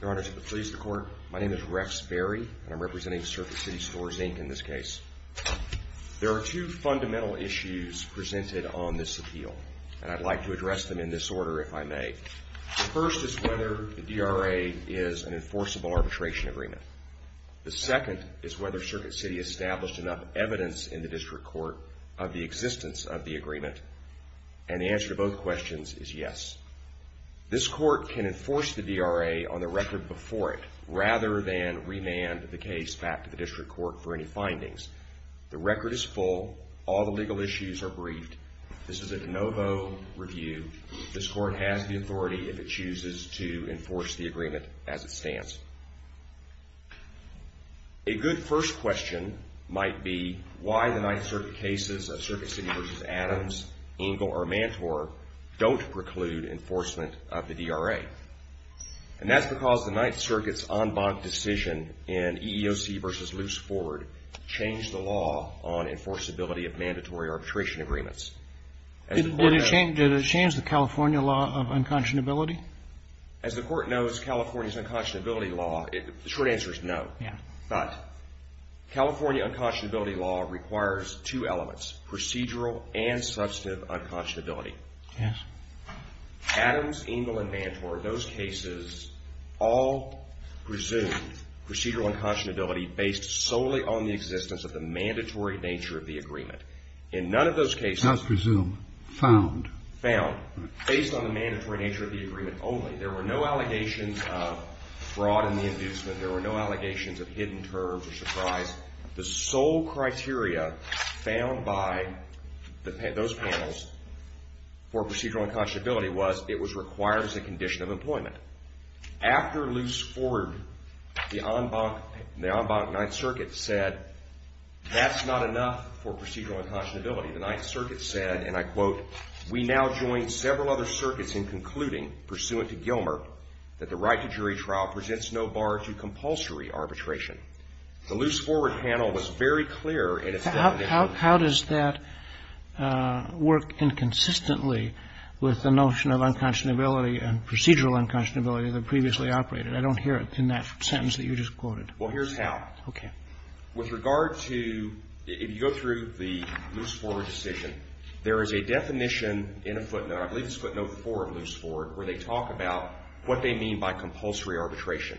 Your Honor, to please the Court, my name is Rex Berry, and I'm representing Circuit City Stores, Inc. in this case. There are two fundamental issues presented on this appeal, and I'd like to address them in this order if I may. The first is whether the DRA is an enforceable arbitration agreement. The second is whether Circuit City established enough evidence in the District Court of the existence of the agreement. And the answer to both questions is yes. This Court can enforce the DRA on the record before it, rather than remand the case back to the District Court for any findings. The record is full. All the legal issues are briefed. This is a de novo review. This Court has the authority, if it chooses, to enforce the agreement as it stands. A good first question might be why the Ninth Circuit cases of Circuit City v. Adams, Engel, or Mantor don't preclude enforcement of the DRA. And that's because the Ninth Circuit's en banc decision in EEOC v. Luce Ford changed the law on enforceability of mandatory arbitration agreements. Did it change the California law of unconscionability? As the Court knows, California's unconscionability law, the short answer is no. But California unconscionability law requires two elements, procedural and substantive unconscionability. Adams, Engel, and Mantor, those cases, all presume procedural unconscionability based solely on the existence of the mandatory nature of the agreement. In none of those cases, found, based on the mandatory nature of the agreement only. There were no allegations of fraud in the inducement. There were no allegations of hidden terms or surprise. The sole criteria found by those panels for procedural unconscionability was it was required as a condition of employment. After Luce Ford, the en banc Ninth Circuit said that's not enough for procedural unconscionability. The Ninth Circuit said, and I quote, We now join several other circuits in concluding, pursuant to Gilmer, that the right to jury trial presents no bar to compulsory arbitration. The Luce Ford panel was very clear in its definition. How does that work inconsistently with the notion of unconscionability and procedural unconscionability that previously operated? I don't hear it in that sentence that you just quoted. Well, here's how. Okay. With regard to, if you go through the Luce Ford decision, there is a definition in a footnote, I believe it's footnote four of Luce Ford, where they talk about what they mean by compulsory arbitration.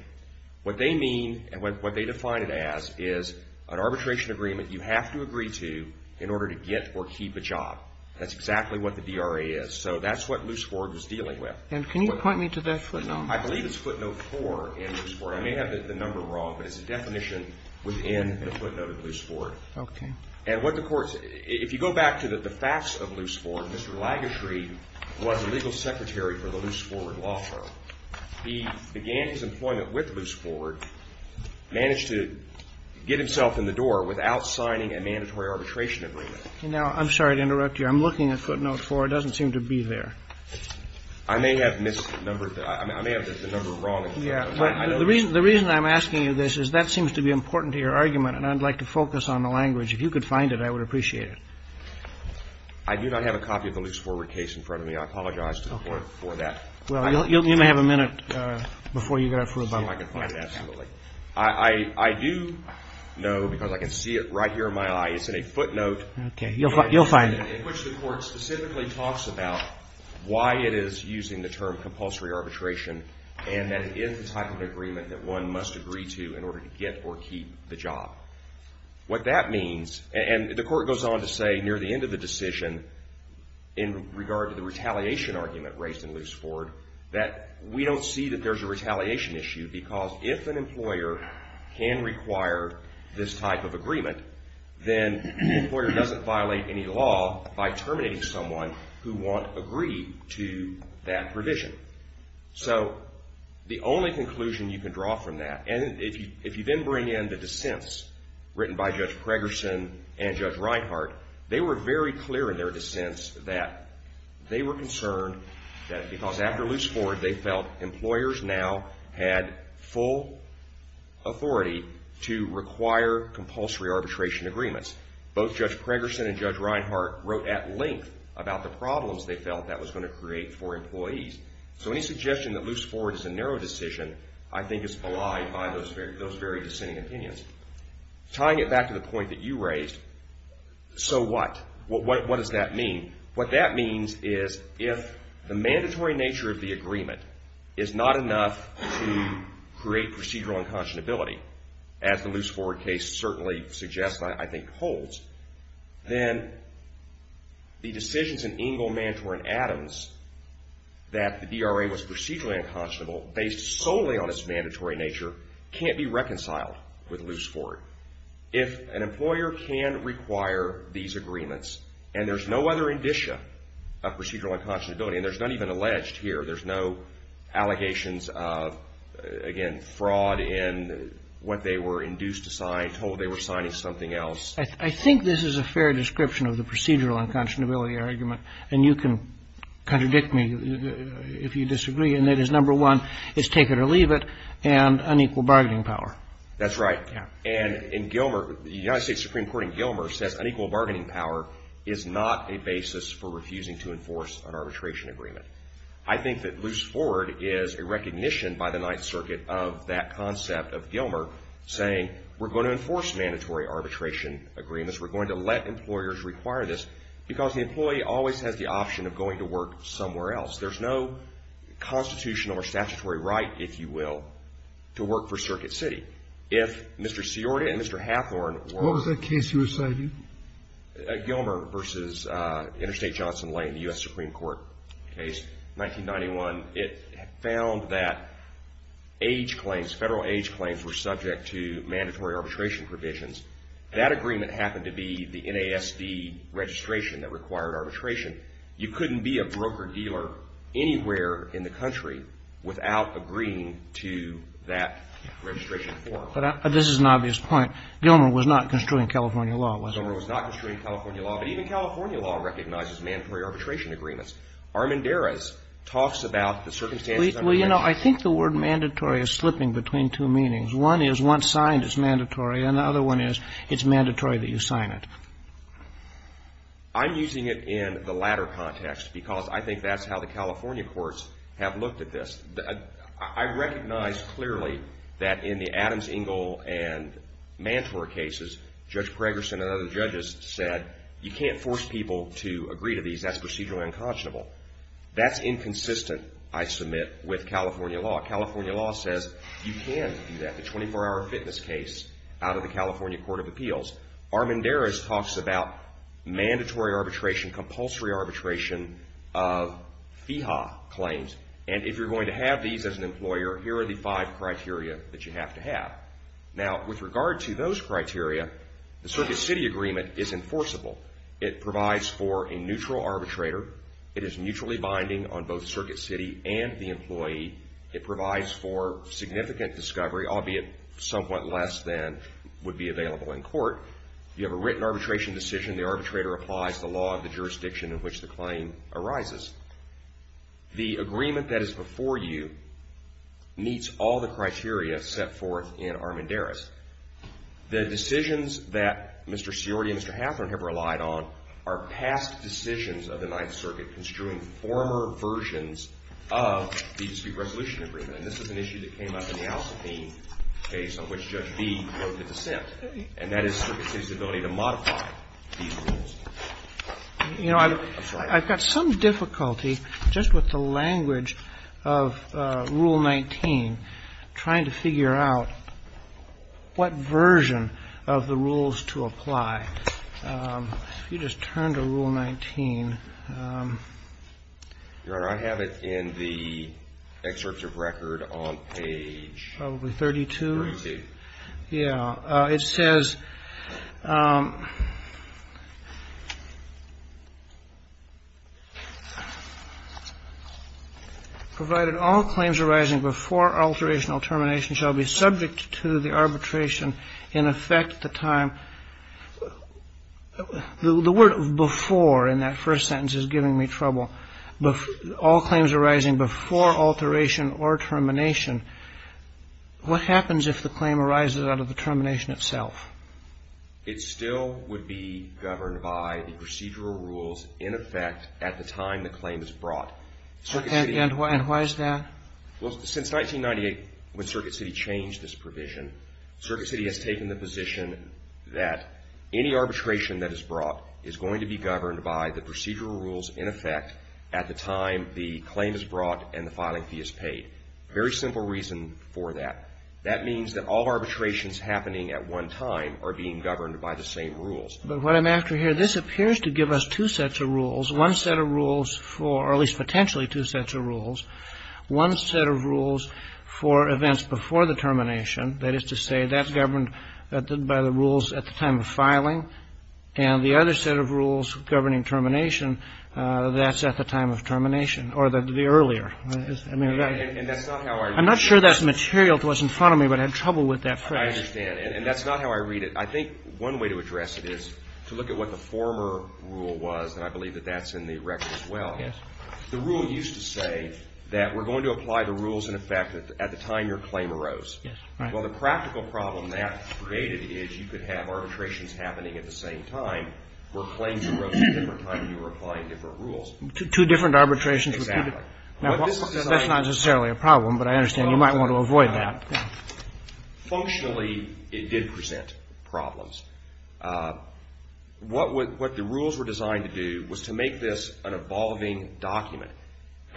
What they mean and what they define it as is an arbitration agreement you have to agree to in order to get or keep a job. That's exactly what the DRA is. So that's what Luce Ford was dealing with. And can you point me to that footnote? I believe it's footnote four in Luce Ford. I may have the number wrong, but it's a definition within the footnote of Luce Ford. Okay. And what the court said, if you go back to the facts of Luce Ford, Mr. Lagashre was the legal secretary for the Luce Ford Law Firm. He began his employment with Luce Ford, managed to get himself in the door without signing a mandatory arbitration agreement. Now, I'm sorry to interrupt you. I'm looking at footnote four. It doesn't seem to be there. I may have misnumbered that. I may have the number wrong. Yeah. The reason I'm asking you this is that seems to be important to your argument, and I'd like to focus on the language. If you could find it, I would appreciate it. I do not have a copy of the Luce Ford case in front of me. I apologize to the court for that. Well, you may have a minute before you go through. See if I can find it. Absolutely. I do know, because I can see it right here in my eye, it's in a footnote. Okay. You'll find it. In which the court specifically talks about why it is using the term compulsory arbitration, and that it is the type of agreement that one must agree to in order to get or keep the job. What that means, and the court goes on to say near the end of the decision in regard to the retaliation argument raised in Luce Ford, that we don't see that there's a retaliation issue because if an employer can require this type of agreement, then the employer doesn't violate any law by terminating someone who won't agree to that provision. So the only conclusion you can draw from that, and if you then bring in the dissents written by Judge Preggerson and Judge Reinhart, they were very clear in their dissents that they were concerned that because after Luce Ford, they felt employers now had full authority to require compulsory arbitration agreements. Both Judge Preggerson and Judge Reinhart wrote at length about the problems they felt that was going to create for employees. So any suggestion that Luce Ford is a narrow decision, I think, is belied by those very dissenting opinions. Tying it back to the point that you raised, so what? What does that mean? What that means is if the mandatory nature of the agreement is not enough to create procedural unconscionability, as the Luce Ford case certainly suggests, and I think holds, then the decisions in Engel, Mantor, and Adams that the DRA was procedurally unconscionable, based solely on its mandatory nature, can't be reconciled with Luce Ford. If an employer can require these agreements, and there's no other indicia of procedural unconscionability, and there's none even alleged here. There's no allegations of, again, fraud in what they were induced to sign, told they were signing something else. I think this is a fair description of the procedural unconscionability argument, and you can contradict me if you disagree, and that is, number one, it's take it or leave it, and unequal bargaining power. That's right. And in Gilmer, the United States Supreme Court in Gilmer says unequal bargaining power is not a basis for refusing to enforce an arbitration agreement. I think that Luce Ford is a recognition by the Ninth Circuit of that concept of Gilmer, saying we're going to enforce mandatory arbitration agreements. We're going to let employers require this, because the employee always has the option of going to work somewhere else. There's no constitutional or statutory right, if you will, to work for Circuit City. If Mr. Siorda and Mr. Hathorn were- What was that case you were citing? Gilmer versus Interstate Johnson Lane, the U.S. Supreme Court case, 1991. It found that age claims, federal age claims, were subject to mandatory arbitration provisions. That agreement happened to be the NASD registration that required arbitration. You couldn't be a broker-dealer anywhere in the country without agreeing to that registration form. But this is an obvious point. Gilmer was not construing California law, was it? Gilmer was not construing California law, but even California law recognizes mandatory arbitration agreements. Armendariz talks about the circumstances under which- Well, you know, I think the word mandatory is slipping between two meanings. One is once signed, it's mandatory, and the other one is it's mandatory that you sign it. I'm using it in the latter context, because I think that's how the California courts have looked at this. I recognize clearly that in the Adams-Engel and Mantor cases, Judge Gregerson and other judges said you can't force people to agree to these. That's procedurally unconscionable. That's inconsistent, I submit, with California law. California law says you can do that, the 24-hour fitness case, out of the California Court of Appeals. Armendariz talks about mandatory arbitration, compulsory arbitration of FEHA claims. And if you're going to have these as an employer, here are the five criteria that you have to have. Now, with regard to those criteria, the Circuit City Agreement is enforceable. It provides for a neutral arbitrator. It is mutually binding on both Circuit City and the employee. It provides for significant discovery, albeit somewhat less than would be available in court. You have a written arbitration decision. The arbitrator applies the law of the jurisdiction in which the claim arises. The agreement that is before you meets all the criteria set forth in Armendariz. The decisions that Mr. Seordi and Mr. Hathorne have relied on are past decisions of the Ninth Circuit construing former versions of the dispute resolution agreement. And this is an issue that came up in the Al-Sateen case on which Judge B wrote the dissent. And that is Circuit City's ability to modify these rules. You know, I've got some difficulty just with the language of Rule 19, trying to figure out what version of the rules to apply. If you just turn to Rule 19. Your Honor, I have it in the excerpt of record on page. Probably 32. 32. Yeah. It says. Provided all claims arising before alteration or termination shall be subject to the arbitration in effect the time. The word before in that first sentence is giving me trouble. All claims arising before alteration or termination. What happens if the claim arises out of the termination itself? It still would be governed by the procedural rules in effect at the time the claim is brought. And why is that? Well, since 1998 when Circuit City changed this provision, Circuit City has taken the position that any arbitration that is brought is going to be governed by the procedural rules in effect at the time the claim is brought and the filing fee is paid. Very simple reason for that. That means that all arbitrations happening at one time are being governed by the same rules. But what I'm after here, this appears to give us two sets of rules. One set of rules for, or at least potentially two sets of rules. One set of rules for events before the termination. That is to say, that's governed by the rules at the time of filing. And the other set of rules governing termination, that's at the time of termination or the earlier. And that's not how I read it. I'm not sure that's material to what's in front of me, but I had trouble with that phrase. I understand. And that's not how I read it. I think one way to address it is to look at what the former rule was, and I believe that that's in the record as well. The rule used to say that we're going to apply the rules in effect at the time your claim arose. Well, the practical problem that created is you could have arbitrations happening at the same time where claims arose at a different time and you were applying different rules. Two different arbitrations. That's not necessarily a problem, but I understand you might want to avoid that. Functionally, it did present problems. What the rules were designed to do was to make this an evolving document.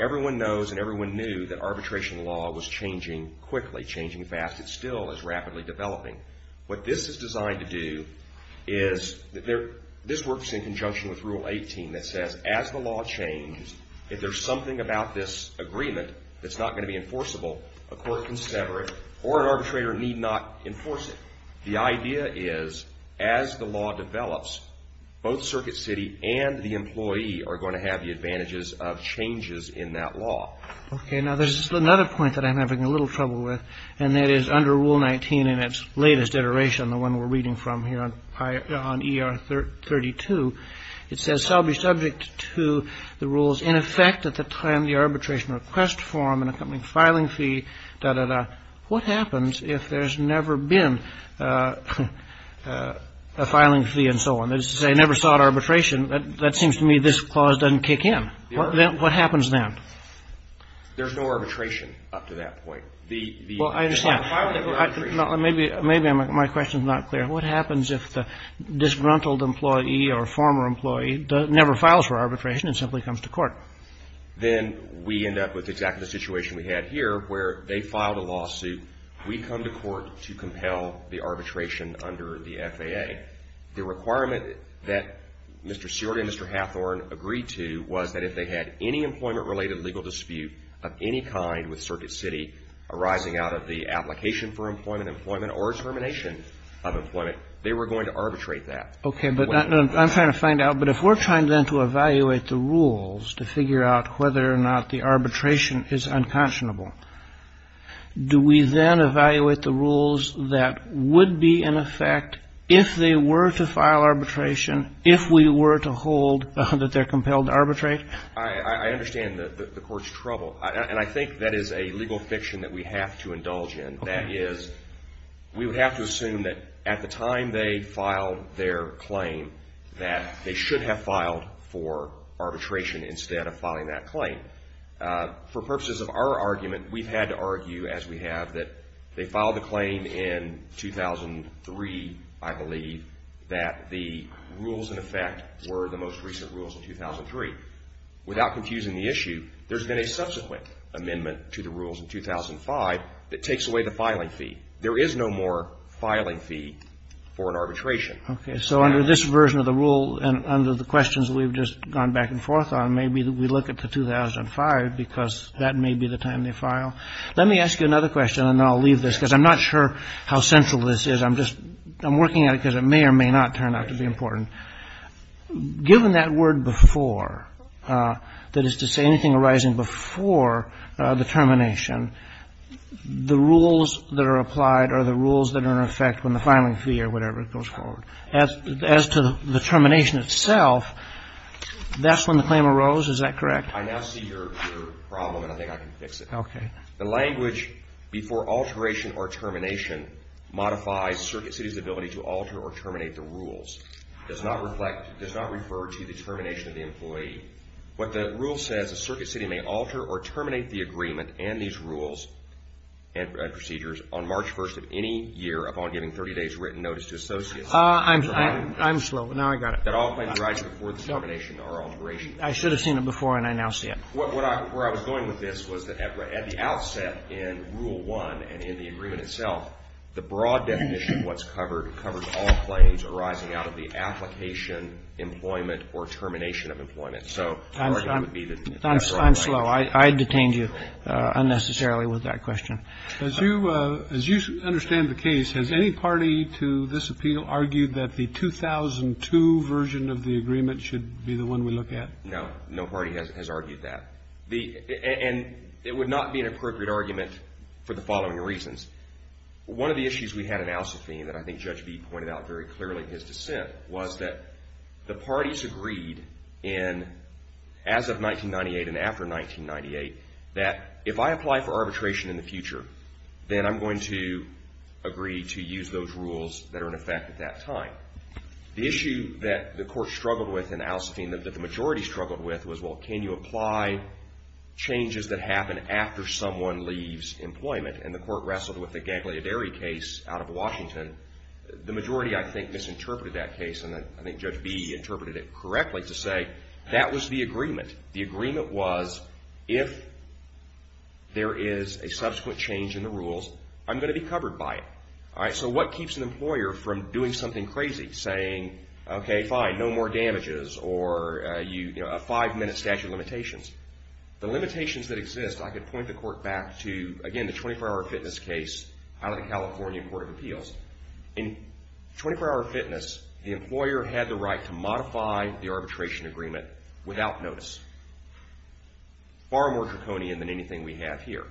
Everyone knows and everyone knew that arbitration law was changing quickly, changing fast. It still is rapidly developing. What this is designed to do is, this works in conjunction with Rule 18 that says, as the law changes, if there's something about this agreement that's not going to be enforceable, a court can sever it or an arbitrator need not enforce it. The idea is, as the law develops, both Circuit City and the employee are going to have the advantages of changes in that law. Okay. Now, there's another point that I'm having a little trouble with, and that is under Rule 19 in its latest iteration, the one we're reading from here on ER 32, it says shall be subject to the rules in effect at the time the arbitration request form and accompanying filing fee, dah, dah, dah. What happens if there's never been a filing fee and so on? That is to say, never sought arbitration. That seems to me this clause doesn't kick in. What happens then? There's no arbitration up to that point. Well, I understand. Maybe my question's not clear. What happens if the disgruntled employee or former employee never files for arbitration and simply comes to court? Then we end up with exactly the situation we had here where they filed a lawsuit. We come to court to compel the arbitration under the FAA. The requirement that Mr. Seward and Mr. Hathorn agreed to was that if they had any employment-related legal dispute of any kind arising out of the application for employment, employment or termination of employment, they were going to arbitrate that. Okay. But I'm trying to find out, but if we're trying then to evaluate the rules to figure out whether or not the arbitration is unconscionable, do we then evaluate the rules that would be in effect if they were to file arbitration, if we were to hold that they're compelled to arbitrate? I understand the Court's trouble. And I think that is a legal fiction that we have to indulge in. That is, we would have to assume that at the time they filed their claim that they should have filed for arbitration instead of filing that claim. For purposes of our argument, we've had to argue, as we have, that they filed the claim in 2003, I believe, that the rules in effect were the most recent rules in 2003. Without confusing the issue, there's been a subsequent amendment to the rules in 2005 that takes away the filing fee. There is no more filing fee for an arbitration. Okay. So under this version of the rule and under the questions we've just gone back and forth on, maybe we look at the 2005, because that may be the time they file. Let me ask you another question, and then I'll leave this, because I'm not sure how central this is. I'm just, I'm working at it because it may or may not turn out to be important. Given that word before, that is to say anything arising before the termination, the rules that are applied are the rules that are in effect when the filing fee or whatever goes forward. As to the termination itself, that's when the claim arose. Is that correct? I now see your problem, and I think I can fix it. Okay. The language before alteration or termination modifies Circuit City's ability to alter or terminate the rules. Does not reflect, does not refer to the termination of the employee. What the rule says is Circuit City may alter or terminate the agreement and these rules and procedures on March 1st of any year upon giving 30 days written notice to associates. I'm slow. Now I got it. That all claims arise before the termination or alteration. I should have seen it before, and I now see it. Where I was going with this was that at the outset in Rule 1 and in the agreement itself, the broad definition of what's covered, it covers all claims arising out of the application, employment, or termination of employment. So the argument would be that that's wrong. I'm slow. I detained you unnecessarily with that question. As you understand the case, has any party to this appeal argued that the 2002 version of the agreement should be the one we look at? No. No party has argued that. And it would not be an appropriate argument for the following reasons. One of the issues we had in Al-Safin that I think Judge B pointed out very clearly in his dissent was that the parties agreed as of 1998 and after 1998 that if I apply for arbitration in the future, then I'm going to agree to use those rules that are in effect at that time. The issue that the court struggled with in Al-Safin that the majority struggled with was, well, can you apply changes that happen after someone leaves employment? And the court wrestled with the Ganglia Derry case out of Washington. The majority, I think, misinterpreted that case, and I think Judge B interpreted it correctly to say that was the agreement. The agreement was if there is a subsequent change in the rules, I'm going to be covered by it. All right, so what keeps an employer from doing something crazy, saying, okay, fine, no more damages or a five-minute statute of limitations? The limitations that exist, I could point the court back to, again, the 24-hour fitness case out of the California Court of Appeals. In 24-hour fitness, the employer had the right to modify the arbitration agreement without notice. Far more draconian than anything we have here.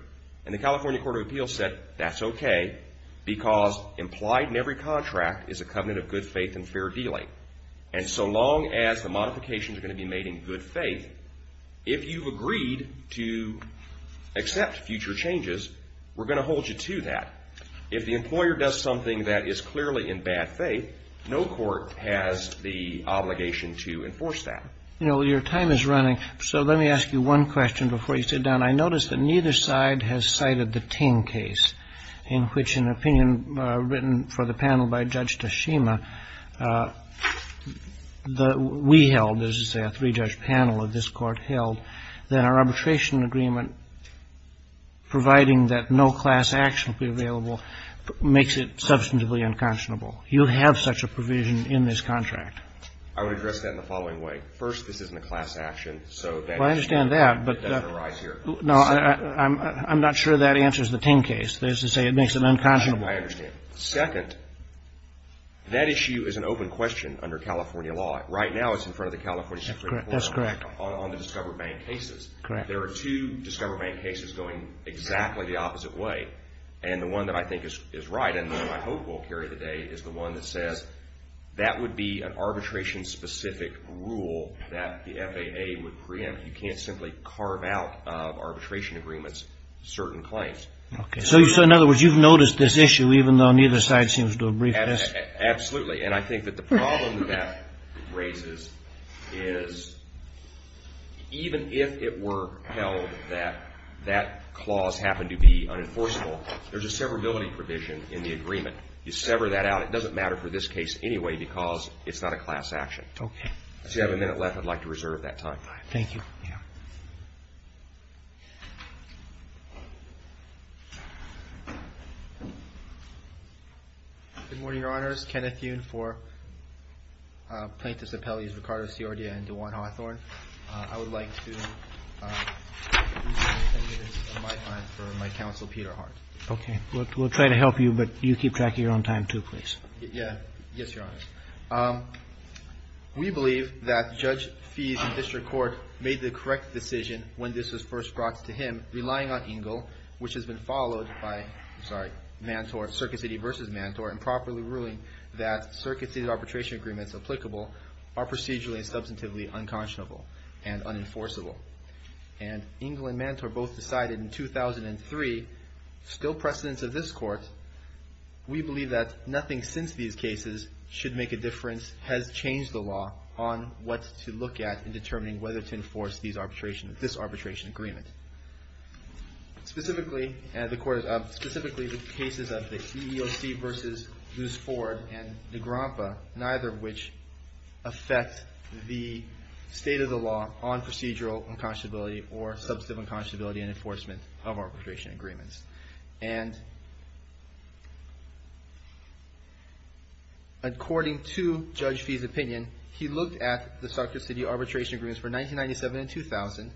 And the California Court of Appeals said that's okay because implied in every contract is a covenant of good faith and fair dealing. And so long as the modifications are going to be made in good faith, if you've agreed to accept future changes, we're going to hold you to that. If the employer does something that is clearly in bad faith, no court has the obligation to enforce that. You know, your time is running, so let me ask you one question before you sit down. I notice that neither side has cited the Ting case, in which an opinion written for the panel by Judge Tashima that we held, as you say, a three-judge panel of this Court held, that our arbitration agreement, providing that no class action will be available, makes it substantively unconscionable. You have such a provision in this contract. I would address that in the following way. First, this isn't a class action, so that issue doesn't arise here. Well, I understand that, but no, I'm not sure that answers the Ting case. That is to say it makes it unconscionable. I understand. Second, that issue is an open question under California law. Right now it's in front of the California Supreme Court on the Discover Bank cases. Correct. There are two Discover Bank cases going exactly the opposite way. And the one that I think is right and that I hope will carry the day is the one that says that would be an arbitration-specific rule that the FAA would preempt. You can't simply carve out of arbitration agreements certain claims. Okay. So, in other words, you've noticed this issue, even though neither side seems to have briefed us? Absolutely. And I think that the problem that that raises is even if it were held that that clause happened to be unenforceable, there's a severability provision in the agreement. You sever that out. It doesn't matter for this case anyway because it's not a class action. Okay. So you have a minute left. I'd like to reserve that time. All right. Thank you. Good morning, Your Honors. Kenneth Yoon for Plaintiffs' Appellees, Ricardo Sordia and DeJuan Hawthorne. I would like to reserve 10 minutes of my time for my counsel, Peter Hart. Okay. We'll try to help you, but you keep track of your own time, too, please. Yeah. Yes, Your Honors. We believe that Judge Fees in district court made the correct decision when this was first brought to him, relying on EGLE, which has been followed by, I'm sorry, Mantor, Circuit City v. Mantor, improperly ruling that Circuit City arbitration agreements applicable are procedurally and substantively unconscionable and unenforceable. And EGLE and Mantor both decided in 2003, still precedence of this Court, we believe that nothing since these cases should make a difference, has changed the law, on what to look at in determining whether to enforce this arbitration agreement. Specifically, the cases of the EEOC v. Luce Ford and Negrompa, neither of which affect the state of the law on procedural unconscionability or substantive unconscionability in enforcement of arbitration agreements. And according to Judge Fees' opinion, he looked at the Circuit City arbitration agreements for 1997 and 2000,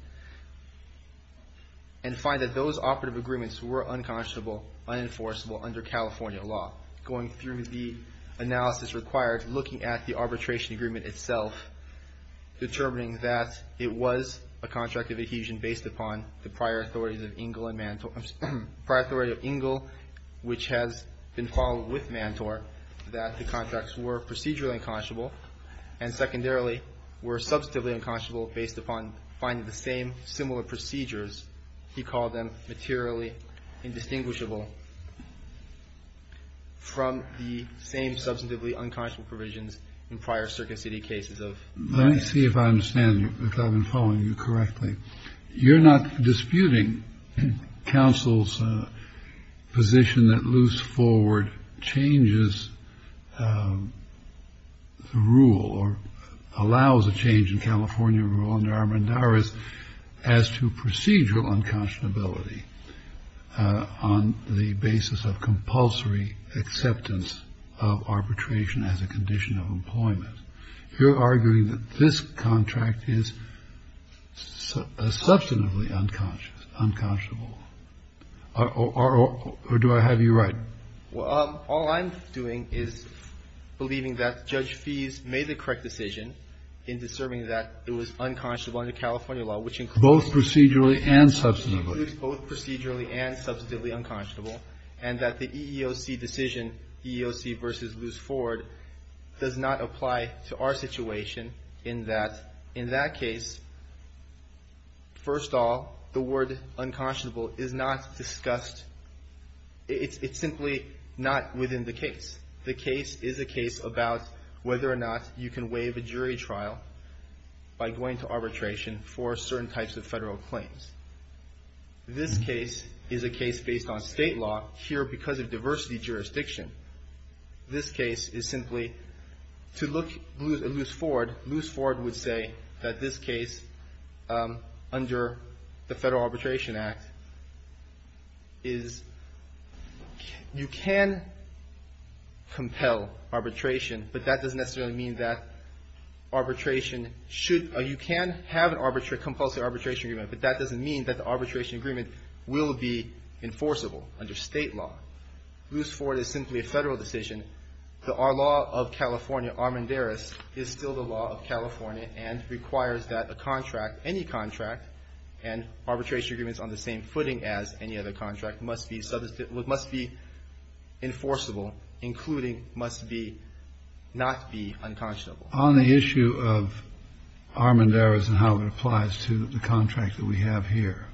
and find that those operative agreements were unconscionable, unenforceable under California law. Going through the analysis required, looking at the arbitration agreement itself, determining that it was a contract of adhesion based upon the prior authority of EGLE and Mantor, prior authority of EGLE, which has been followed with Mantor, that the contracts were procedurally unconscionable, and secondarily were substantively unconscionable based upon finding the same similar procedures, he called them materially indistinguishable from the same substantively unconscionable provisions in prior Circuit City cases of the United States. Kennedy Let me see if I understand, if I've been following you correctly. You're not disputing counsel's position that loose forward changes the rule or allows a change in California rule under Armendariz as to procedural unconscionability on the basis of compulsory acceptance of arbitration as a condition of employment. You're arguing that this contract is substantively unconscious, unconscionable. Or do I have you right? Martinez Well, all I'm doing is believing that Judge Fies made the correct decision in discerning that it was unconscionable under California law, which includes Kennedy Both procedurally and substantively. Martinez Both procedurally and substantively unconscionable, and that the EEOC decision, EEOC versus loose forward, does not apply to our situation in that, in that case, first of all, the word unconscionable is not discussed. It's simply not within the case. The case is a case about whether or not you can waive a jury trial by going to arbitration for certain types of federal claims. This case is a case based on state law here because of diversity jurisdiction. This case is simply, to look loose forward, loose forward would say that this case, under the Federal Arbitration Act, is, you can compel arbitration, but that doesn't necessarily mean that arbitration should, you can have a compulsive arbitration agreement, but that doesn't mean that the arbitration agreement will be enforceable under state law. Loose forward is simply a Federal decision. The law of California, Armendariz, is still the law of California and requires that a contract, any contract, and arbitration agreements on the same footing as any other contract must be, must be enforceable, including must be, not be unconscionable. On the issue of Armendariz and how it applies to the contract that we have here,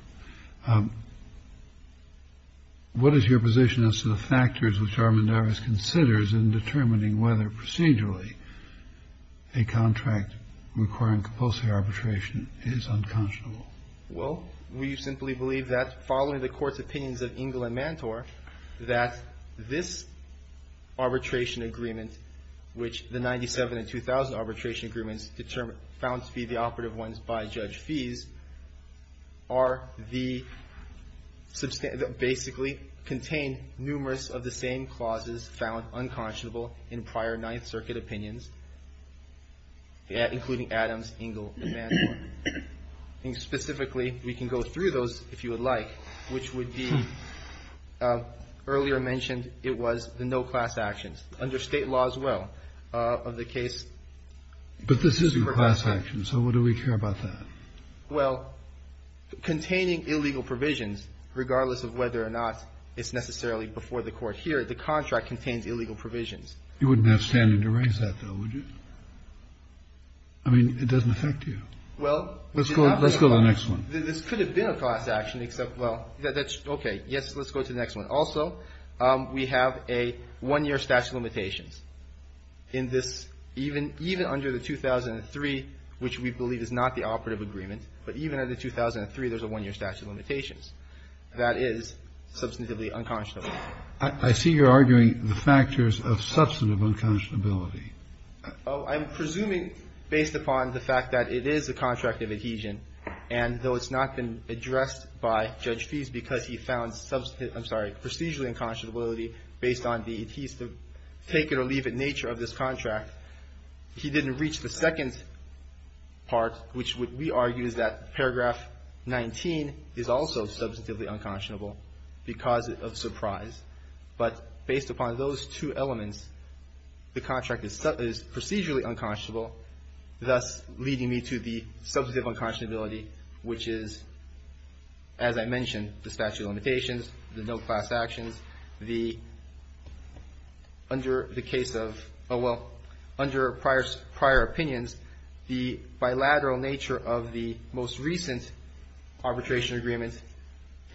what is your position as to the factors which Armendariz considers in determining whether procedurally a contract requiring compulsive arbitration is unconscionable? Well, we simply believe that, following the Court's opinions of Engel and Mantor, that this arbitration agreement, which the 97 and 2000 arbitration agreements found to be the operative ones by Judge Fees, are the, basically contain numerous of the same clauses found unconscionable in prior Ninth Circuit opinions, including Adams, Engel, and Mantor. And specifically, we can go through those if you would like, which would be, earlier mentioned, it was the no class actions, under State law as well, of the case. But this isn't class action, so what do we care about that? Well, containing illegal provisions, regardless of whether or not it's necessarily before the Court here, the contract contains illegal provisions. You wouldn't have standing to raise that, though, would you? I mean, it doesn't affect you. Well, we did not raise it. Let's go to the next one. This could have been a class action, except, well, that's okay. Yes, let's go to the next one. Also, we have a one-year statute of limitations. In this, even under the 2003, which we believe is not the operative agreement, but even under 2003, there's a one-year statute of limitations. That is substantively unconscionable. I see you're arguing the factors of substantive unconscionability. I'm presuming, based upon the fact that it is a contract of adhesion, and though it's not been addressed by Judge Fease because he found substantive ‑‑ I'm sorry, procedurally unconscionability based on the adhesive, take-it-or-leave-it nature of this contract, he didn't reach the second part, which we argue is that paragraph 19 is also substantively unconscionable because of surprise. But based upon those two elements, the contract is procedurally unconscionable, thus leading me to the substantive unconscionability, which is, as I mentioned, the statute of limitations, the no class actions, the ‑‑ under the case of ‑‑ oh, well, under prior opinions, the bilateral nature of the most recent arbitration agreement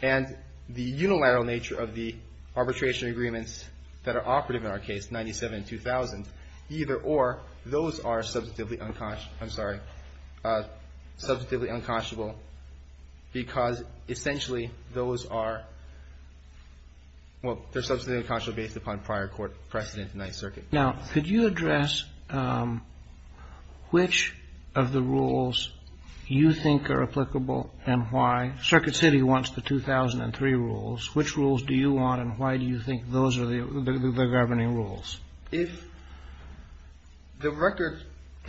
and the unilateral nature of the arbitration agreements that are operative in our case, 97 and 2000, either or, those are substantively ‑‑ I'm sorry, substantively unconscionable because essentially those are ‑‑ well, they're substantively unconscionable based upon prior precedent in the Ninth Circuit. Now, could you address which of the rules you think are applicable and why? Circuit City wants the 2003 rules. Which rules do you want and why do you think those are the governing rules? If the record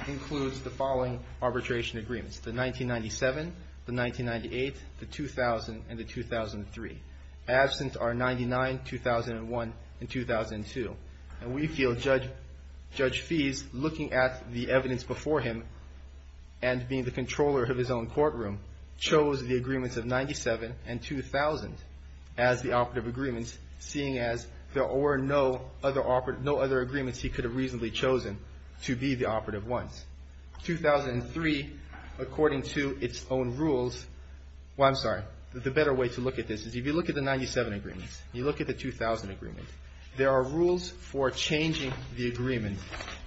includes the following arbitration agreements, the 1997, the 1998, the 2000, and the 2003, absent are 99, 2001, and 2002, and we feel Judge Fease, looking at the evidence before him and being the controller of his own courtroom, chose the agreements of 97 and 2000 as the operative agreements, seeing as there were no other agreements he could have reasonably chosen to be the operative ones. 2003, according to its own rules, well, I'm sorry, the better way to look at this is if you look at the 97 agreements and you look at the 2000 agreements, there are rules for changing the agreement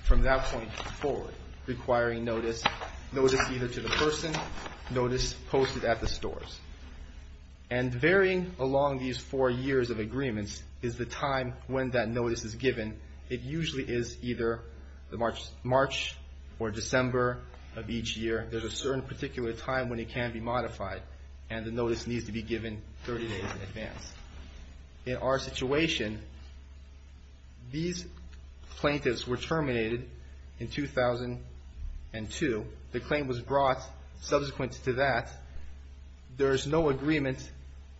from that point forward, requiring notice, notice either to the person, notice posted at the stores. And varying along these four years of agreements is the time when that notice is given. It usually is either March or December of each year. There's a certain particular time when it can be modified, and the notice needs to be given 30 days in advance. In our situation, these plaintiffs were terminated in 2002. The claim was brought subsequent to that. There's no agreement.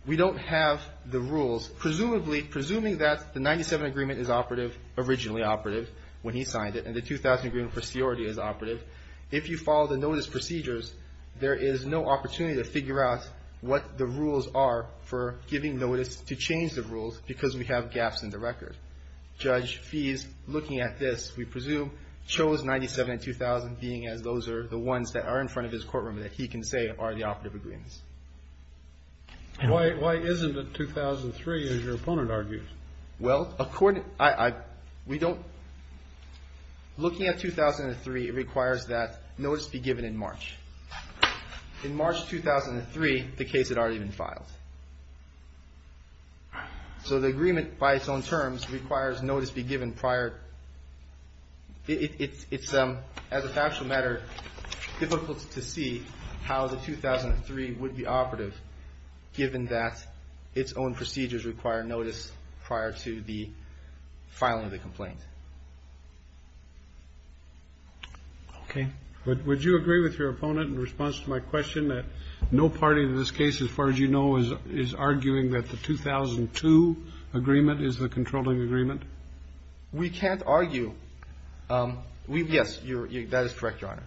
We don't have the rules. Presumably, presuming that the 97 agreement is operative, originally operative, when he signed it, and the 2000 agreement is operative, if you follow the notice procedures, there is no opportunity to figure out what the rules are for giving notice to change the rules because we have gaps in the record. Judge Fees, looking at this, we presume chose 97 and 2000, being as those are the ones that are in front of his courtroom that he can say are the operative agreements. Why isn't it 2003, as your opponent argues? Looking at 2003, it requires that notice be given in March. In March 2003, the case had already been filed. So the agreement, by its own terms, requires notice be given prior. It's, as a factual matter, difficult to see how the 2003 would be operative, given that its own procedures require notice prior to the filing of the complaint. Okay. Would you agree with your opponent in response to my question that no party in this case, as far as you know, is arguing that the 2002 agreement is the controlling agreement? We can't argue. Yes, that is correct, Your Honor.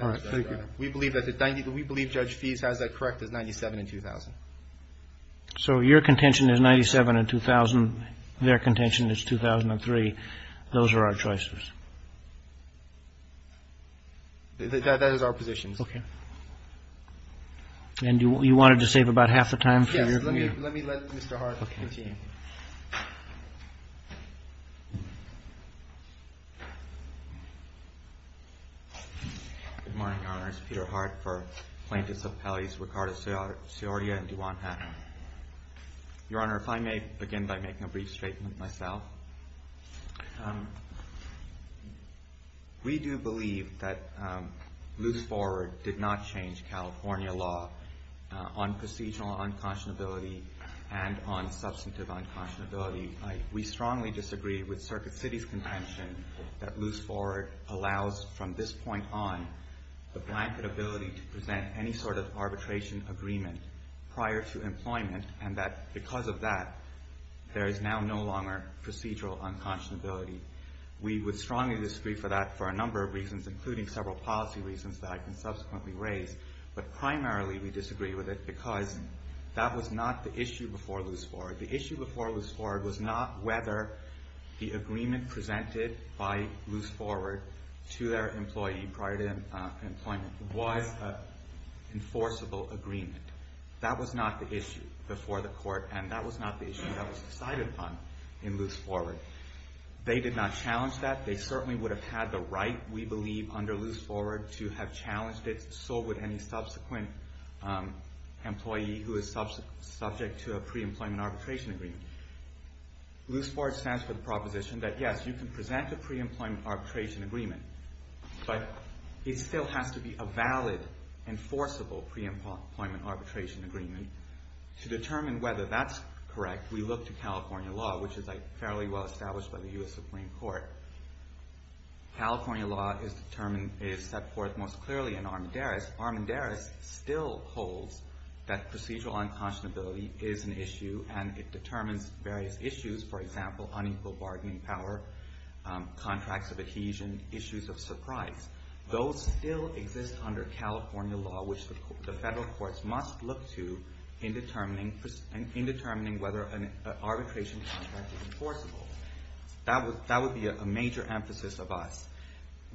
All right. Thank you. We believe Judge Fees has that correct as 97 and 2000. So your contention is 97 and 2000. Their contention is 2003. Those are our choices. That is our position. Okay. And you wanted to save about half the time? Yes. Let me let Mr. Hart continue. Okay. Good morning, Your Honors. Peter Hart for Plaintiffs Appellees Riccardo Siordia and DuJuan Hatton. Your Honor, if I may begin by making a brief statement myself. We do believe that loose forward did not change California law on procedural unconscionability and on substantive unconscionability. We strongly disagree with Circuit City's contention that loose forward allows, from this point on, the blanket ability to present any sort of arbitration agreement prior to employment, and that because of that, there is now no longer procedural unconscionability. We would strongly disagree for that for a number of reasons, including several policy reasons that I can subsequently raise. But primarily we disagree with it because that was not the issue before loose forward. The issue before loose forward was not whether the agreement presented by loose forward to their employee prior to employment was an enforceable agreement. That was not the issue before the court, and that was not the issue that was decided upon in loose forward. They did not challenge that. They certainly would have had the right, we believe, under loose forward to have challenged it, so would any subsequent employee who is subject to a pre-employment arbitration agreement. Loose forward stands for the proposition that, yes, you can present a pre-employment arbitration agreement, but it still has to be a valid, enforceable pre-employment arbitration agreement. To determine whether that's correct, we look to California law, which is fairly well established by the U.S. Supreme Court. California law is set forth most clearly in Armendariz. Armendariz still holds that procedural unconscionability is an issue, and it determines various issues, for example, unequal bargaining power, contracts of adhesion, issues of surprise. Those still exist under California law, which the federal courts must look to in determining whether an arbitration contract is enforceable. That would be a major emphasis of us.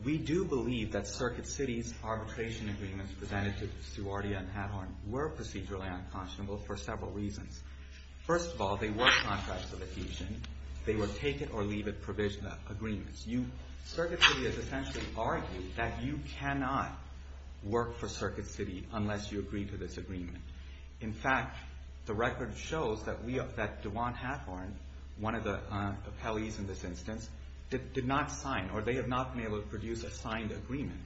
We do believe that Circuit City's arbitration agreements presented to Suwardia and Hadhorn were procedurally unconscionable for several reasons. First of all, they were contracts of adhesion. They were take-it-or-leave-it agreements. Circuit City has essentially argued that you cannot work for Circuit City unless you agree to this agreement. In fact, the record shows that Dewan Hadhorn, one of the appellees in this instance, did not sign, or they have not been able to produce a signed agreement.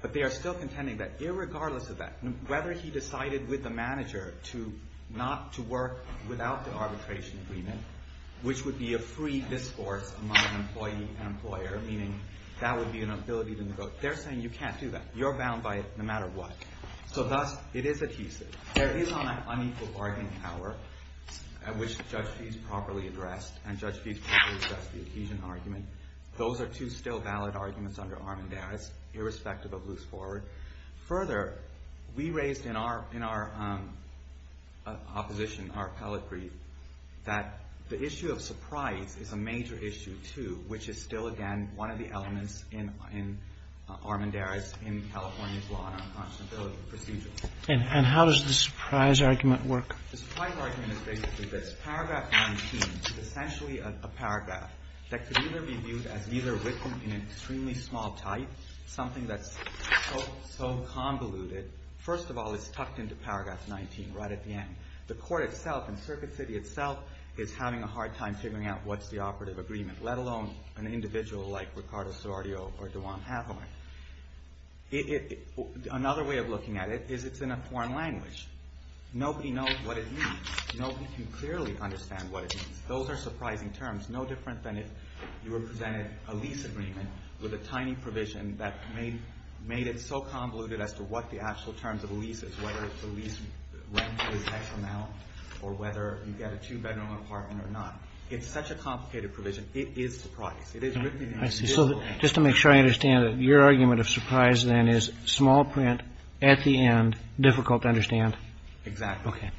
But they are still contending that, irregardless of that, whether he decided with the manager not to work without the arbitration agreement, which would be a free discourse among an employee and employer, meaning that would be an ability to negotiate, they're saying you can't do that. You're bound by it no matter what. So thus, it is adhesive. There is unequal bargaining power, which Judge Feese properly addressed, and Judge Feese properly addressed the adhesion argument. Those are two still valid arguments under Armendariz, irrespective of Luce Forward. Further, we raised in our opposition, our appellate brief, that the issue of surprise is a major issue, too, which is still, again, one of the elements in Armendariz in California's law and unconscionability procedure. And how does the surprise argument work? The surprise argument is basically this. Paragraph 19 is essentially a paragraph that could either be viewed as either written in an extremely small type, something that's so convoluted. First of all, it's tucked into Paragraph 19 right at the end. The court itself, and Circuit City itself, is having a hard time figuring out what's the operative agreement, let alone an individual like Ricardo Sorrio or Dewan Hathaway. Another way of looking at it is it's in a foreign language. Nobody knows what it means. Nobody can clearly understand what it means. Those are surprising terms, no different than if you were presented a lease agreement with a tiny provision that made it so convoluted as to what the actual terms of a lease is, whether the lease rent is X amount or whether you get a two-bedroom apartment or not. It's such a complicated provision. It is surprise. It is written in English. So just to make sure I understand, your argument of surprise, then, is small print at the end, difficult to understand? Exactly. Okay.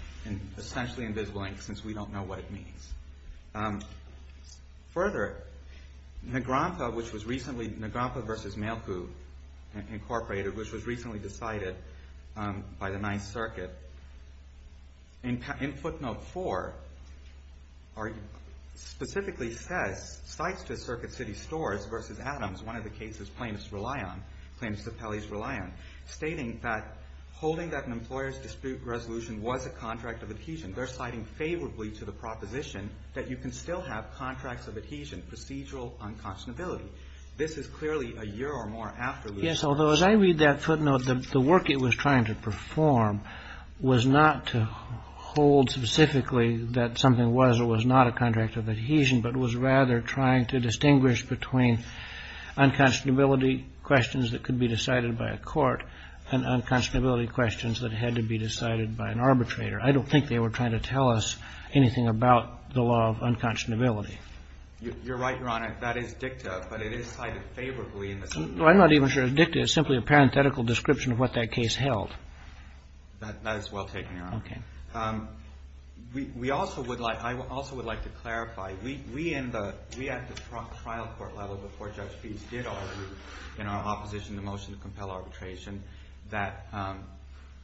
Essentially invisible, since we don't know what it means. Further, Negrompa, which was recently, Negrompa v. Mailku, Incorporated, which was recently decided by the 9th Circuit, in footnote 4, specifically says, cites to Circuit City stores v. Adams, one of the cases plaintiffs rely on, plaintiffs of Pele's rely on, stating that, holding that an employer's dispute resolution was a contract of adhesion, they're citing favorably to the proposition that you can still have contracts of adhesion, procedural unconscionability. This is clearly a year or more after... Yes, although as I read that footnote, the work it was trying to perform was not to hold specifically that something was or was not a contract of adhesion, but was rather trying to distinguish between unconscionability questions that could be decided by a court and unconscionability questions that had to be decided by an arbitrator. I don't think they were trying to tell us anything about the law of unconscionability. You're right, Your Honor. That is dicta, but it is cited favorably in the... I'm not even sure if dicta is simply a parenthetical description of what that case held. That is well taken, Your Honor. Okay. We also would like, I also would like to clarify, we at the trial court level, before Judge Pease did argue in our opposition to the motion to compel arbitration, that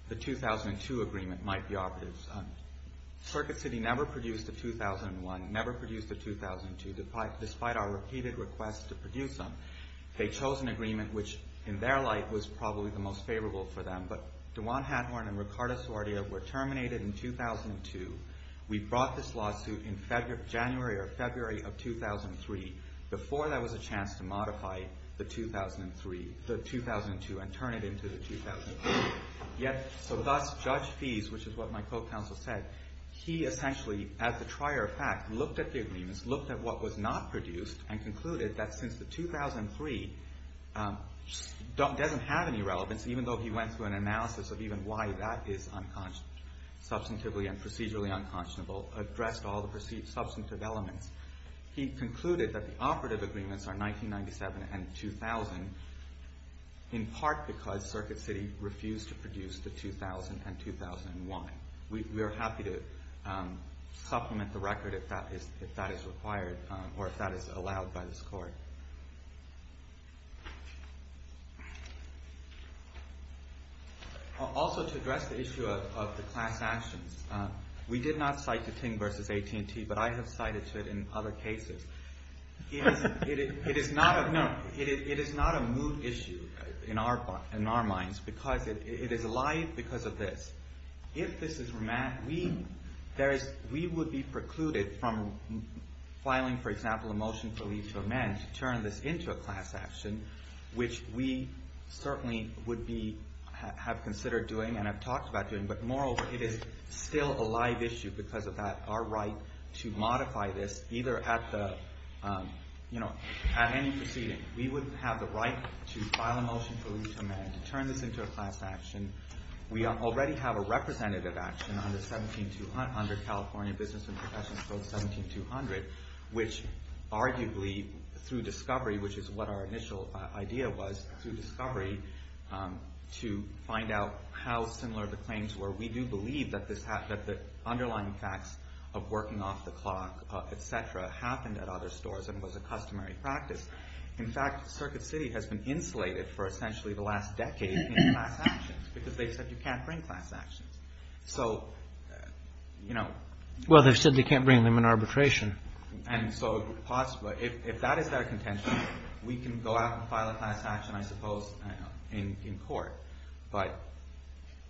the 2002 agreement might be operative. Circuit City never produced a 2001, never produced a 2002, despite our repeated requests to produce them. They chose an agreement which, in their light, was probably the most favorable for them, but Dewan Hathorne and Riccardo Sordia were terminated in 2002. We brought this lawsuit in January or February of 2003, before there was a chance to modify the 2003, the 2002, and turn it into the 2003. Yet, so thus, Judge Pease, which is what my co-counsel said, he essentially, as the trier of fact, looked at the agreements, looked at what was not produced, and concluded that since the 2003 doesn't have any relevance, even though he went through an analysis of even why that is substantively and procedurally unconscionable, addressed all the substantive elements, he concluded that the operative agreements are 1997 and 2000, in part because Circuit City refused to produce the 2000 and 2001. We are happy to supplement the record if that is required, or if that is allowed by this court. Also, to address the issue of the class actions, we did not cite the Ting v. AT&T, but I have cited it in other cases. It is not a mood issue in our minds, because it is alive because of this. If this is remand, we would be precluded from filing, for example, a motion for leave to amend, to turn this into a class action, which we certainly would have considered doing, and have talked about doing, but moreover, it is still a live issue because of our right to modify this, either at any proceeding. We would have the right to file a motion for leave to amend, to turn this into a class action. We already have a representative action under California Business and Professional Code 17200, which arguably, through discovery, which is what our initial idea was through discovery, to find out how similar the claims were. We do believe that the underlying facts of working off the clock, etc., happened at other stores and was a customary practice. In fact, Circuit City has been insulated for essentially the last decade in class actions, because they said you can't bring class actions. So, you know. Well, they've said they can't bring them in arbitration. And so if that is their contention, we can go out and file a class action, I suppose, in court. But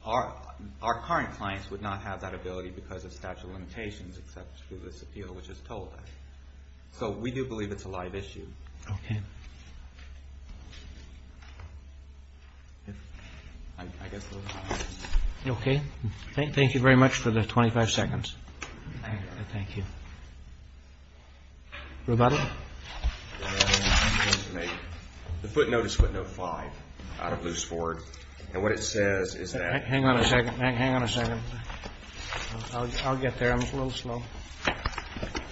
our current clients would not have that ability because of statute of limitations except through this appeal which is told. So we do believe it's a live issue. Okay. Okay. Thank you very much for the 25 seconds. Thank you. Thank you. Roboto. The footnote is footnote five out of loose board. And what it says is that. Hang on a second. Hang on a second. I'll get there. I'm a little slow.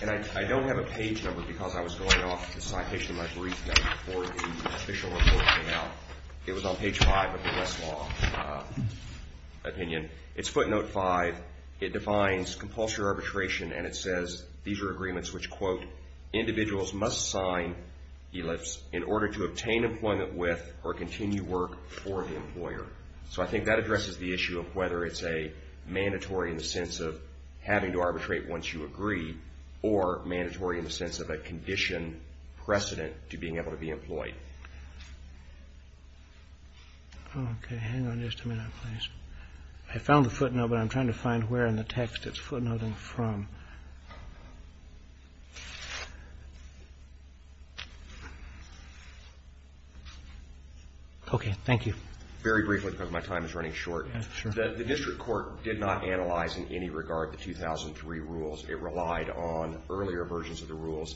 And I don't have a page number because I was going off the citation of my brief before the official report came out. It was on page five. Page five of the Westlaw opinion. It's footnote five. It defines compulsory arbitration and it says these are agreements which, quote, individuals must sign, ellipse, in order to obtain employment with or continue work for the employer. So I think that addresses the issue of whether it's a mandatory in the sense of having to arbitrate once you agree or mandatory in the sense of a condition precedent to being able to be employed. Okay. Hang on just a minute, please. I found the footnote but I'm trying to find where in the text it's footnoting from. Okay. Thank you. Very briefly because my time is running short. Sure. The district court did not analyze in any regard the 2003 rules. It relied on earlier versions of the rules.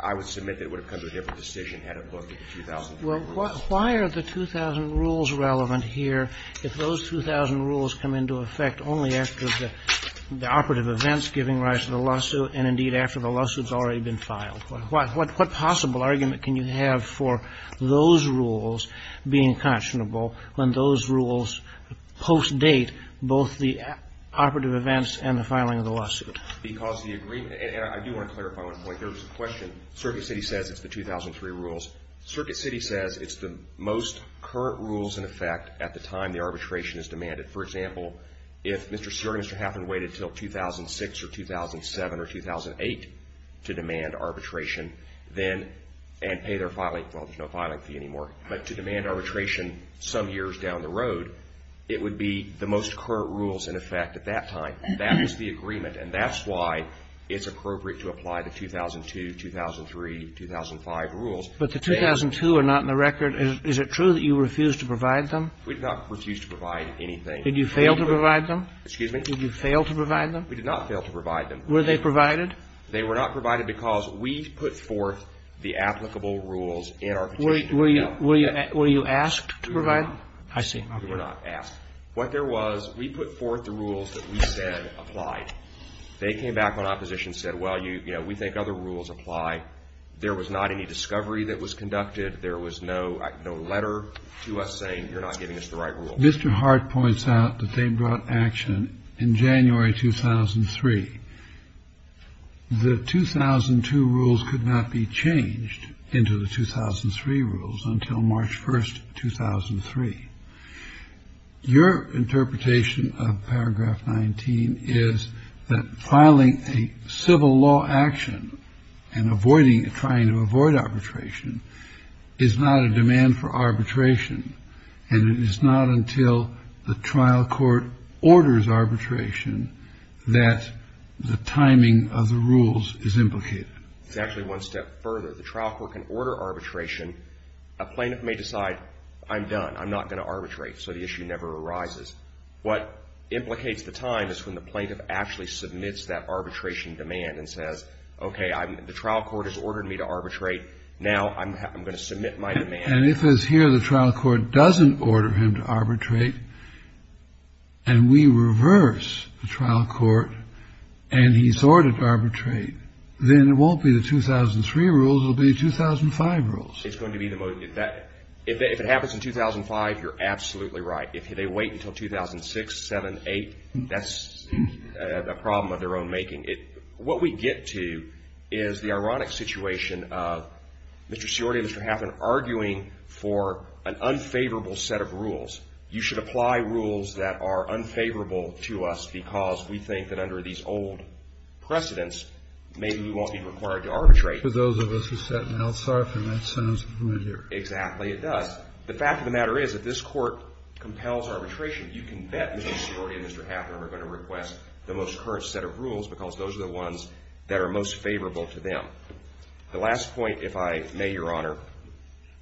I would submit that it would have come to a different decision had it looked at the 2003 rules. Well, why are the 2000 rules relevant here if those 2000 rules come into effect only after the operative events giving rise to the lawsuit and, indeed, after the lawsuit's already been filed? What possible argument can you have for those rules being conscionable when those rules post-date both the operative events and the filing of the lawsuit? Because the agreement, and I do want to clarify one point. There was a question. Circuit City says it's the 2003 rules. Circuit City says it's the most current rules in effect at the time the arbitration is demanded. For example, if Mr. Seward and Mr. Haffern waited until 2006 or 2007 or 2008 to demand arbitration, then, and pay their filing, well, there's no filing fee anymore, but to demand arbitration some years down the road, it would be the most current rules in effect at that time. That is the agreement, and that's why it's appropriate to apply the 2002, 2003, 2005 rules. But the 2002 are not in the record. Is it true that you refused to provide them? We did not refuse to provide anything. Did you fail to provide them? Excuse me? Did you fail to provide them? We did not fail to provide them. Were they provided? They were not provided because we put forth the applicable rules in our petition. Were you asked to provide them? I see. You were not asked. What there was, we put forth the rules that we said applied. They came back on opposition, said, well, you know, we think other rules apply. There was not any discovery that was conducted. There was no letter to us saying you're not giving us the right rules. Mr. Hart points out that they brought action in January 2003. The 2002 rules could not be changed into the 2003 rules until March 1st, 2003. Your interpretation of paragraph 19 is that filing a civil law action and avoiding and trying to avoid arbitration is not a demand for arbitration. And it is not until the trial court orders arbitration that the timing of the rules is implicated. It's actually one step further. The trial court can order arbitration. A plaintiff may decide, I'm done. I'm not going to arbitrate. So the issue never arises. What implicates the time is when the plaintiff actually submits that arbitration demand and says, okay, the trial court has ordered me to arbitrate. Now I'm going to submit my demand. And if it's here, the trial court doesn't order him to arbitrate and we reverse the trial court and he's ordered to arbitrate, then it won't be the 2003 rules. It'll be 2005 rules. It's going to be the most if that if it happens in 2005, you're absolutely right. If they wait until 2006, 7, 8, that's a problem of their own making it. So what we get to is the ironic situation of Mr. Siordia and Mr. Hafner arguing for an unfavorable set of rules. You should apply rules that are unfavorable to us because we think that under these old precedents, maybe we won't be required to arbitrate. For those of us who sat in Al-Sharif and that sentence right here. Exactly, it does. The fact of the matter is that this court compels arbitration. You can bet Mr. Siordia and Mr. Hafner are going to request the most current set of rules because those are the ones that are most favorable to them. The last point, if I may, Your Honor,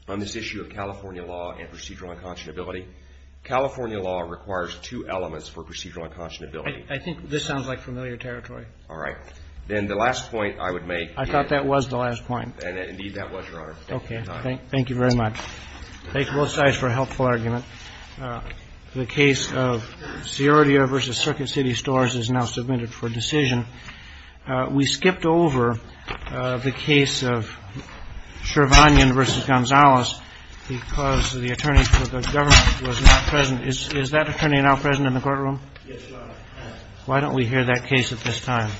on this issue of California law and procedural unconscionability. California law requires two elements for procedural unconscionability. I think this sounds like familiar territory. All right. Then the last point I would make. I thought that was the last point. Indeed, that was, Your Honor. Okay. Thank you very much. Thank both sides for a helpful argument. The case of Siordia v. Circuit City Stores is now submitted for decision. We skipped over the case of Shervanian v. Gonzalez because the attorney for the government was not present. Is that attorney now present in the courtroom? Yes, Your Honor. Why don't we hear that case at this time?